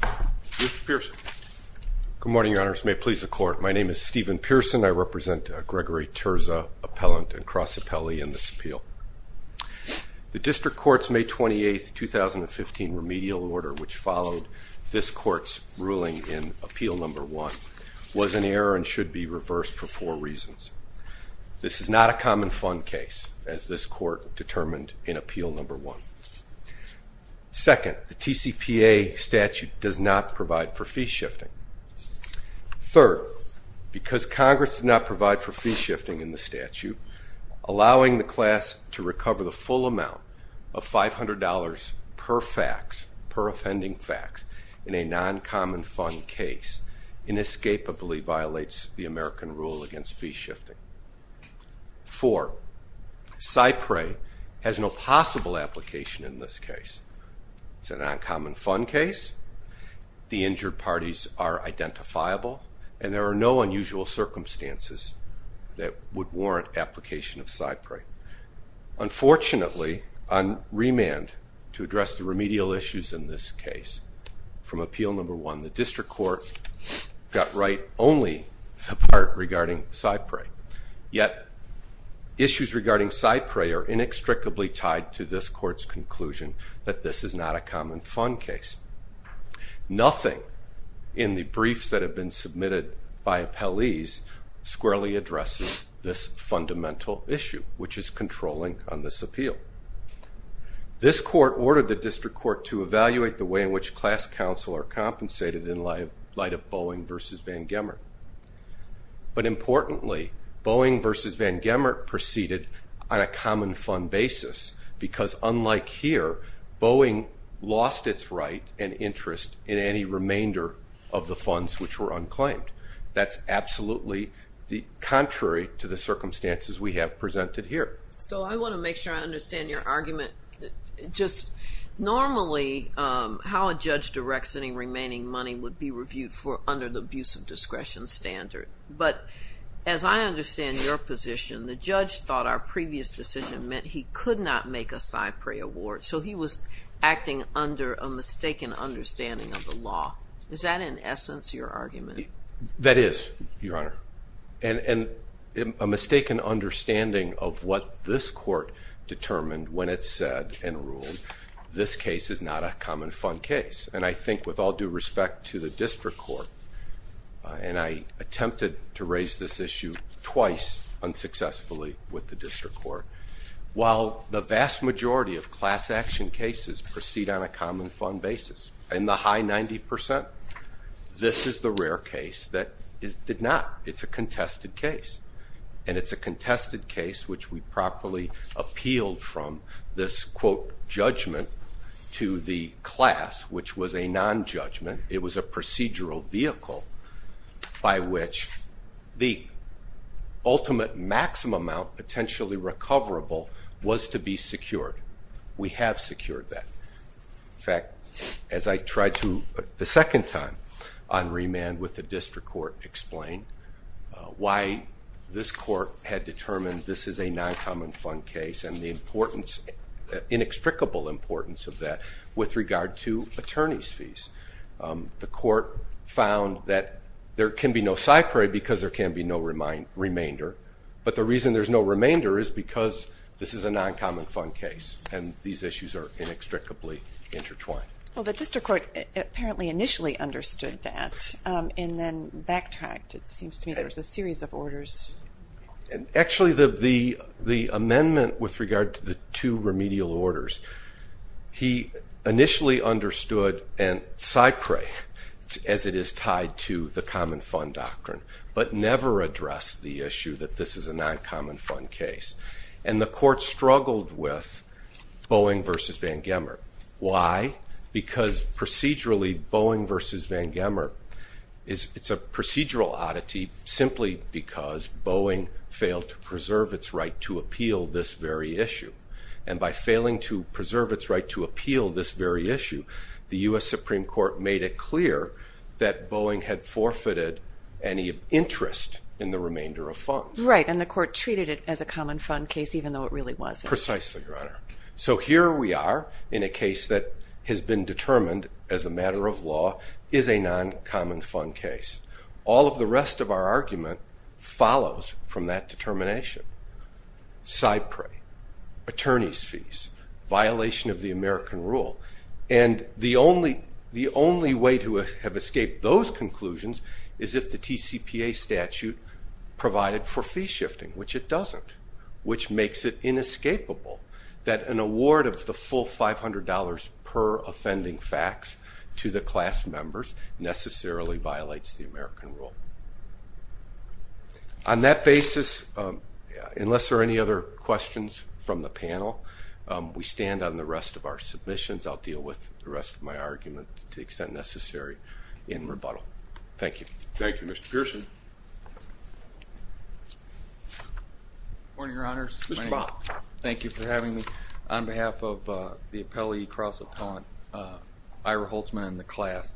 Mr. Pearson. Good morning, Your Honors. May it please the Court, my name is Stephen Pearson. I represent Gregory Turza appellant and cross appellee in this appeal. The District Court's May 28, 2015 remedial order which followed this court's ruling in appeal number one was an error and should be reversed for four reasons. This is not a common fund case as this court determined in appeal number one. Second, the TCPA statute does not provide for fee shifting. Third, because Congress did not provide for fee shifting in the statute, allowing the class to recover the full amount of $500 per fax per offending fax in a non-common fund case inescapably violates the American rule against fee application in this case. It's a non-common fund case, the injured parties are identifiable, and there are no unusual circumstances that would warrant application of cypre. Unfortunately, on remand to address the remedial issues in this case from appeal number one, the District Court got right only the part regarding cypre, yet issues regarding cypre are inextricably tied to this court's conclusion that this is not a common fund case. Nothing in the briefs that have been submitted by appellees squarely addresses this fundamental issue, which is controlling on this appeal. This court ordered the District Court to evaluate the way in which class counsel are compensated in light of Boeing v. Van Gemert, but importantly Boeing v. Van Gemert proceeded on a common fund basis, because unlike here, Boeing lost its right and interest in any remainder of the funds which were unclaimed. That's absolutely the contrary to the circumstances we have presented here. So I want to make sure I understand your argument, just normally how a judge directs any remaining money would be reviewed for under the abuse of our previous decision meant he could not make a cypre award, so he was acting under a mistaken understanding of the law. Is that in essence your argument? That is, Your Honor, and a mistaken understanding of what this court determined when it said and ruled this case is not a common fund case, and I think with all due respect to the District Court, and I attempted to raise this issue twice unsuccessfully with the District Court, while the vast majority of class action cases proceed on a common fund basis, and the high 90%, this is the rare case that did not. It's a contested case, and it's a contested case which we properly appealed from this, quote, judgment to the class, which was a non judgment. It was a procedural vehicle by which the ultimate maximum amount potentially recoverable was to be secured. We have secured that. In fact, as I tried to, the second time on remand with the District Court, explain why this court had determined this is a non-common fund case and the importance, inextricable importance of that with regard to attorneys fees. The court found that there can be no cypre because there can be no remainder, but the reason there's no remainder is because this is a non-common fund case, and these issues are inextricably intertwined. Well, the District Court apparently initially understood that and then backtracked. It seems to me there's a series of orders. Actually, the amendment with regard to the two remedial orders, he initially understood and cypre as it is never addressed the issue that this is a non-common fund case, and the court struggled with Boeing versus Van Gemmer. Why? Because procedurally Boeing versus Van Gemmer, it's a procedural oddity simply because Boeing failed to preserve its right to appeal this very issue, and by failing to preserve its right to appeal this very issue, the U.S. Supreme Court made it clear that Boeing had forfeited any interest in the remainder of funds. Right, and the court treated it as a common fund case even though it really wasn't. Precisely, Your Honor. So here we are in a case that has been determined as a matter of law is a non-common fund case. All of the rest of our argument follows from that determination. Cypre, attorneys fees, violation of the American rule, and the conclusions is if the TCPA statute provided for fee shifting, which it doesn't, which makes it inescapable that an award of the full $500 per offending fax to the class members necessarily violates the American rule. On that basis, unless there are any other questions from the panel, we stand on the rest of our submissions. I'll deal with the rest of my argument to the extent necessary in thank you. Thank you, Mr Pearson. Morning, Your Honors. Thank you for having me on behalf of the appellee cross upon Ira Holtzman in the class.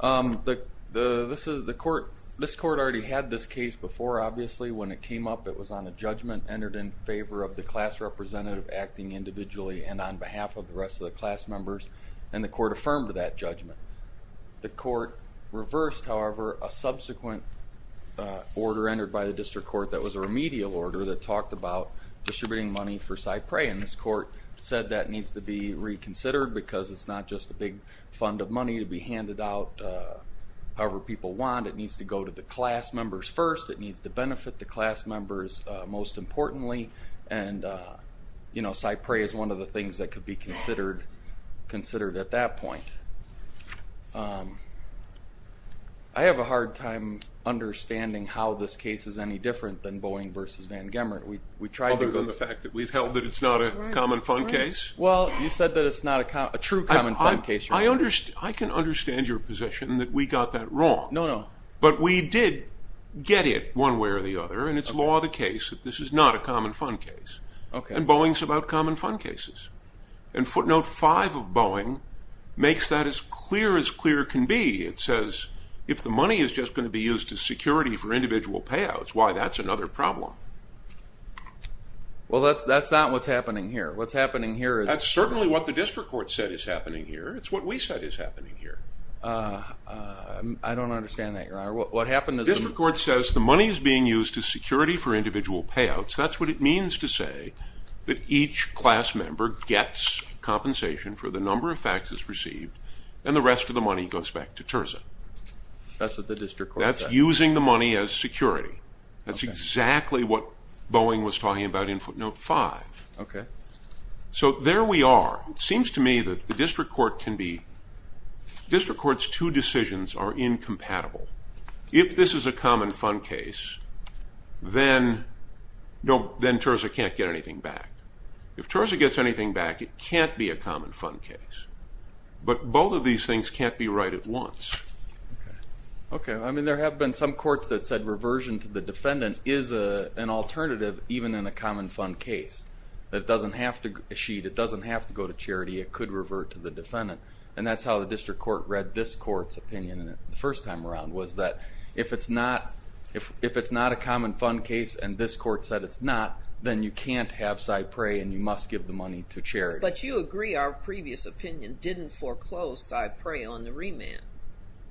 Um, this is the court. This court already had this case before. Obviously, when it came up, it was on a judgment entered in favor of the class representative acting individually and on behalf of the rest of the class members, and the court affirmed that judgment. The court reversed, however, a subsequent order entered by the district court that was a remedial order that talked about distributing money for Cypre, and this court said that needs to be reconsidered because it's not just a big fund of money to be handed out however people want. It needs to go to the class members first. It needs to benefit the class members most importantly, and, uh, you know, Cypre is one of the things that could be considered at that point. Um, I have a hard time understanding how this case is any different than Boeing versus Van Gemert. Other than the fact that we've held that it's not a common fund case? Well, you said that it's not a true common fund case. I understand. I can understand your position that we got that wrong. No, no. But we did get it one way or the other, and it's law of the case that this is not a common fund case, and Boeing's about common fund cases, and footnote 5 of Boeing makes that as clear as clear can be. It says if the money is just going to be used to security for individual payouts, why that's another problem. Well, that's that's not what's happening here. What's happening here is... That's certainly what the district court said is happening here. It's what we said is happening here. Uh, I don't understand that, your honor. What happened is... The district court says the money is being used to security for gets compensation for the number of faxes received, and the rest of the money goes back to Terza. That's what the district court said. That's using the money as security. That's exactly what Boeing was talking about in footnote 5. Okay. So there we are. It seems to me that the district court can be... District Court's two decisions are incompatible. If this is a common fund case, then Terza can't get anything back. If Terza gets anything back, it can't be a common fund case. But both of these things can't be right at once. Okay. I mean, there have been some courts that said reversion to the defendant is an alternative even in a common fund case. That it doesn't have to... It doesn't have to go to charity. It could revert to the defendant, and that's how the district court read this court's opinion in it the first time around, was that if it's not... If it's not a common fund case and this court said it's not, then you can't have Cypre and you must give the money to charity. But you agree our previous opinion didn't foreclose Cypre on the remand,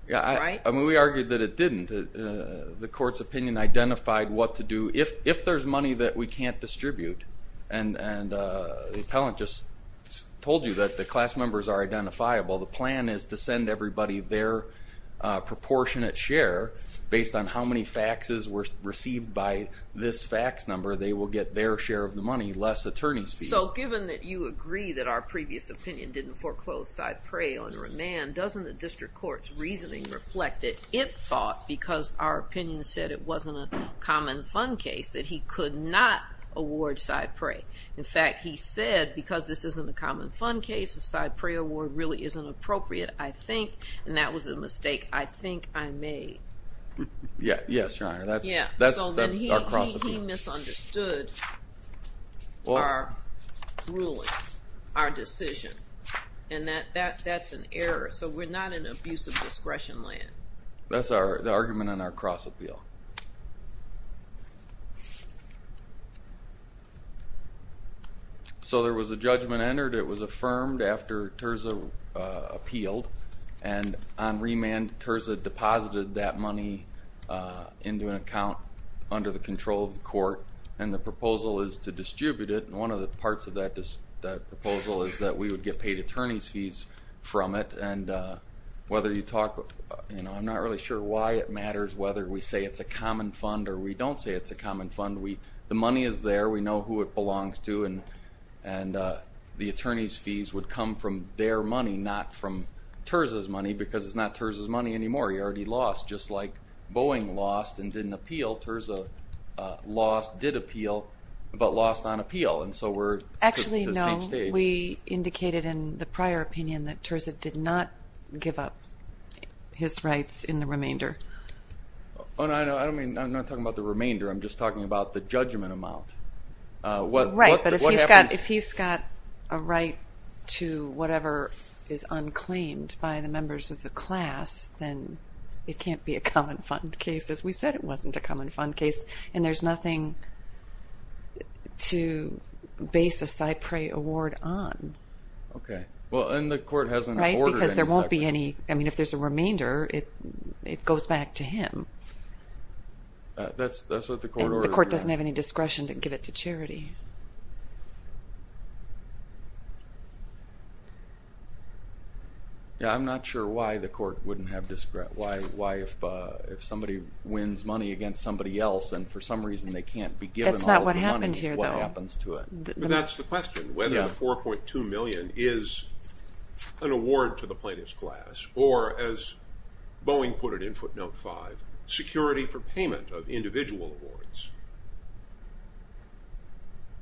right? Yeah. I mean, we argued that it didn't. The court's opinion identified what to do if there's money that we can't distribute. And the appellant just told you that the class members are identifiable. The plan is to send everybody their proportionate share based on how many faxes were received by this fax number. They will get their share of the money, less attorney's fees. So, given that you agree that our previous opinion didn't foreclose Cypre on remand, doesn't the district court's reasoning reflect that it thought, because our opinion said it wasn't a common fund case, that he could not award Cypre? In fact, he said because this isn't a common fund case, a Cypre award really isn't appropriate, I think, and that was a mistake I think I made. Yeah, yes, Your Honor. That's our cross-appeal. He misunderstood our ruling, our decision, and that's an error. So, we're not in abusive discretion land. That's the argument on our cross-appeal. So, there was a judgment entered. It was affirmed after Terza appealed, and on the proposal is to distribute it. One of the parts of that proposal is that we would get paid attorney's fees from it, and whether you talk... I'm not really sure why it matters whether we say it's a common fund or we don't say it's a common fund. The money is there. We know who it belongs to, and the attorney's fees would come from their money, not from Terza's money, because it's not Terza's money anymore. He already lost, just like Boeing lost and didn't appeal. Terza lost, did appeal, but lost on appeal, and so we're... Actually, no. We indicated in the prior opinion that Terza did not give up his rights in the remainder. Oh, no, I don't mean... I'm not talking about the remainder. I'm just talking about the judgment amount. Right, but if he's got a right to whatever is unclaimed by the members of the class, then it can't be a common fund case, as we said it wasn't a common fund case, and there's nothing to base a CyPray award on. Okay, well, and the court hasn't... Right, because there won't be any... I mean, if there's a remainder, it goes back to him. That's what the court ordered. The court doesn't have any discretion to give it to charity. Yeah, I'm not sure why the court wouldn't have discretion, why if somebody wins money against somebody else and for some reason they can't be given all the money, what happens to it? That's not what happened here, though. That's the question, whether 4.2 million is an award to the plaintiff's class, or as Boeing put it in footnote five, security for payment of individual awards.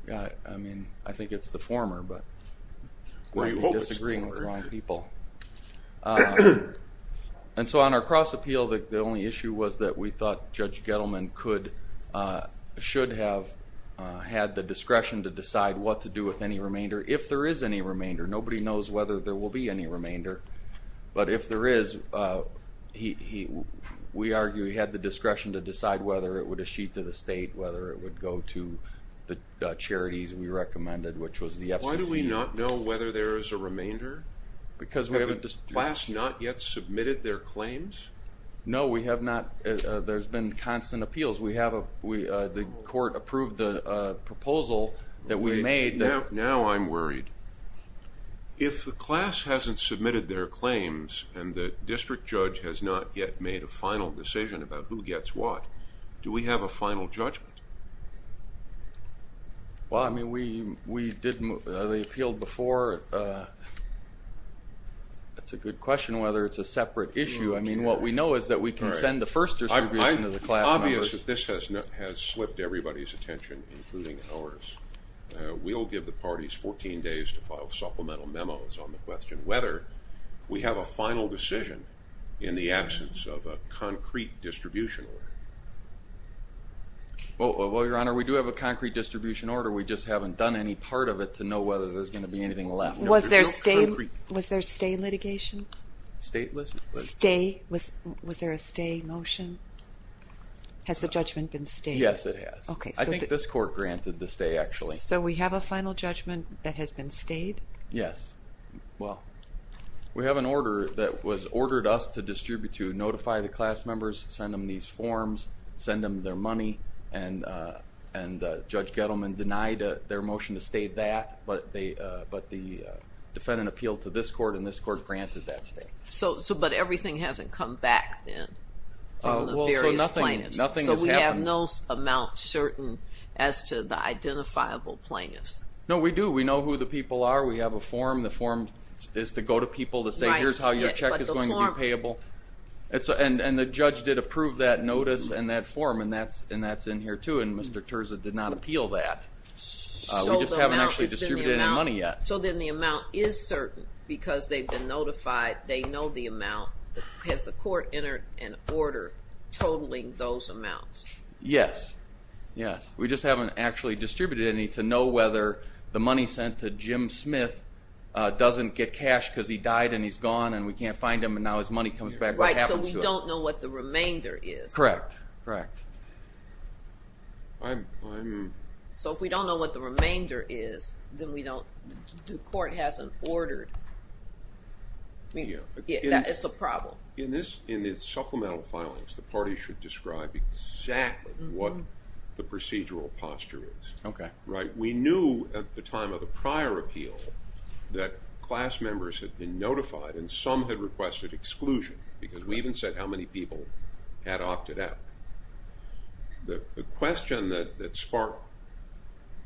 Yeah, I mean, I think it's the former, but we're disagreeing with the wrong people. And so on our cross appeal, the only issue was that we thought Judge Gettleman should have had the discretion to decide what to do with any remainder, if there is any remainder. Nobody knows whether there will be any remainder, but if there is, we argue he had the discretion to decide whether it would achieve to the state, whether it would go to the charities we recommended, which was the FCC. Why do we not know whether there is a remainder? Because we haven't... Has the class not yet submitted their claims? No, we have not. There's been constant appeals. The court approved the Now I'm worried. If the class hasn't submitted their claims and the district judge has not yet made a final decision about who gets what, do we have a final judgment? Well, I mean, we did, they appealed before. That's a good question, whether it's a separate issue. I mean, what we know is that we can send the first distribution to the class. It's obvious that this has slipped everybody's We'll give the parties 14 days to file supplemental memos on the question whether we have a final decision in the absence of a concrete distribution order. Well, Your Honor, we do have a concrete distribution order. We just haven't done any part of it to know whether there's going to be anything left. Was there stay litigation? State litigation? Was there a stay motion? Has the court granted the stay actually? So we have a final judgment that has been stayed? Yes. Well, we have an order that was ordered us to distribute to notify the class members, send them these forms, send them their money, and Judge Gettleman denied their motion to stay that, but the defendant appealed to this court and this court granted that stay. So, but everything hasn't come back then from the various plaintiffs? Nothing has happened. So we have no amount certain as to the identifiable plaintiffs? No, we do. We know who the people are. We have a form. The form is to go to people to say, here's how your check is going to be payable. And the judge did approve that notice and that form, and that's in here too, and Mr. Terza did not appeal that. We just haven't actually distributed any money yet. So then the amount is certain because they've notified, they know the amount. Has the court entered an order totaling those amounts? Yes, yes. We just haven't actually distributed any to know whether the money sent to Jim Smith doesn't get cash because he died and he's gone and we can't find him and now his money comes back. Right, so we don't know what the remainder is? Correct, correct. So if we don't know what the remainder is, then we That is a problem. In this, in the supplemental filings, the party should describe exactly what the procedural posture is. Okay. Right, we knew at the time of a prior appeal that class members had been notified and some had requested exclusion because we even said how many people had opted out. The question that sparked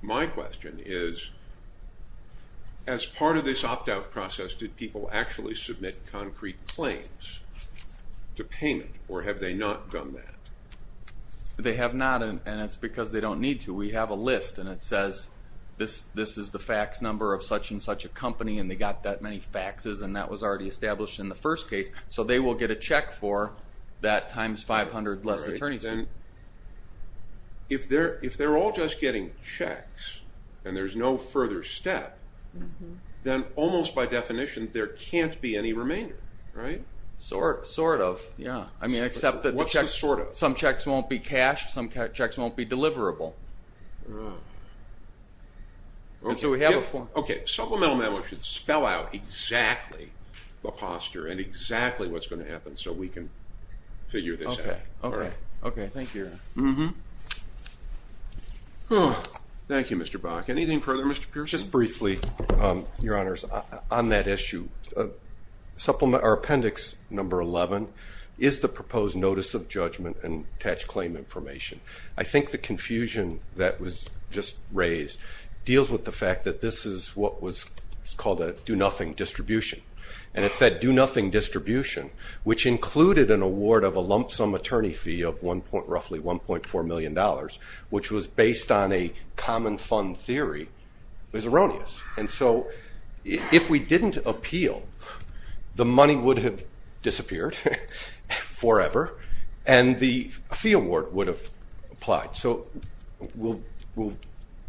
my question is, as part of this opt-out process, did people actually submit concrete claims to payment or have they not done that? They have not and it's because they don't need to. We have a list and it says this is the fax number of such-and-such a company and they got that many faxes and that was already established in the first case. So they will get a check for that times 500 less attorneys. If they're all just getting checks and there's no further step, then almost by definition there can't be any remainder, right? Sort of, yeah. I mean except that some checks won't be cashed, some checks won't be deliverable. So we have a form. Okay. Supplemental memo should spell out exactly the posture and exactly what's going to happen so we can figure this out. Okay, okay, thank you. Mm-hmm. Thank you, Mr. Bach. Anything further, Mr. Pierce? Just briefly, Your Honors, on that issue. Appendix number 11 is the proposed notice of judgment and attached claim information. I think the confusion that was just raised deals with the fact that this is what was called a do-nothing distribution and it's that do-nothing distribution which included an award of a lump-sum attorney fee of roughly 1.4 million dollars, which was based on a common fund theory, is erroneous. And so if we didn't appeal, the money would have disappeared forever and the fee award would have applied. So we'll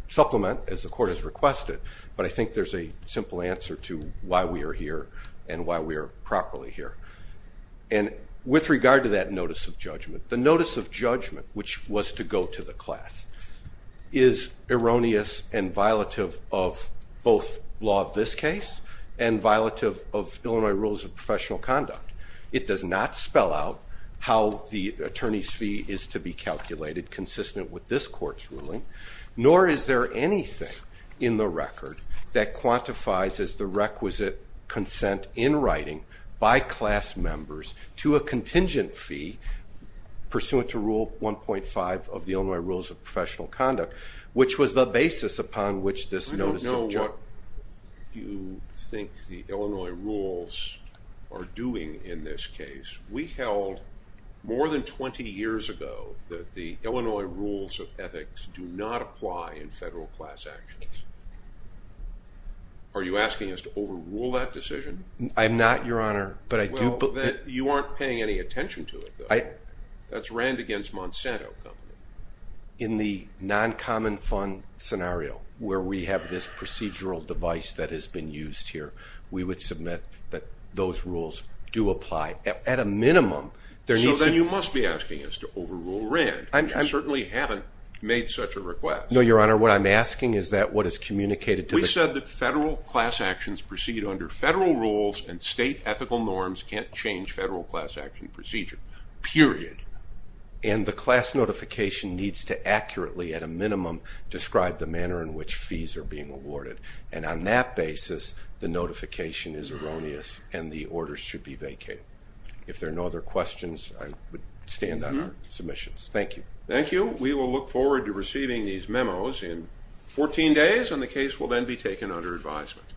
supplement as the court has requested, but I think there's a simple answer to why we are here and why we are properly here. And with regard to that notice of judgment, the notice of judgment, which was to go to the class, is erroneous and violative of both law of this case and violative of Illinois rules of professional conduct. It does not spell out how the attorney's fee is to be calculated consistent with this court's ruling, nor is there anything in the record that quantifies as the requisite consent in writing by class members to a contingent fee pursuant to Rule 1.5 of the Illinois Rules of Professional Conduct, which was the basis upon which this notice of judgment... I don't know what you think the Illinois rules are doing in this case. We held more than 20 years ago that the Illinois rules of Are you asking us to overrule that decision? I'm not, Your Honor, but I do... Well, then you aren't paying any attention to it, though. That's Rand against Monsanto. In the non-common fund scenario, where we have this procedural device that has been used here, we would submit that those rules do apply. At a minimum, there needs to... So then you must be asking us to overrule Rand. You certainly haven't made such a request. No, Your Honor, what I'm asking is that what is communicated... We said that federal class actions proceed under federal rules and state ethical norms can't change federal class action procedure, period. And the class notification needs to accurately, at a minimum, describe the manner in which fees are being awarded. And on that basis, the notification is erroneous and the orders should be vacated. If there are no other questions, I would stand on our submissions. Thank you. Thank you. We will look forward to receiving these memos in 14 days and the case will then be taken under advisement.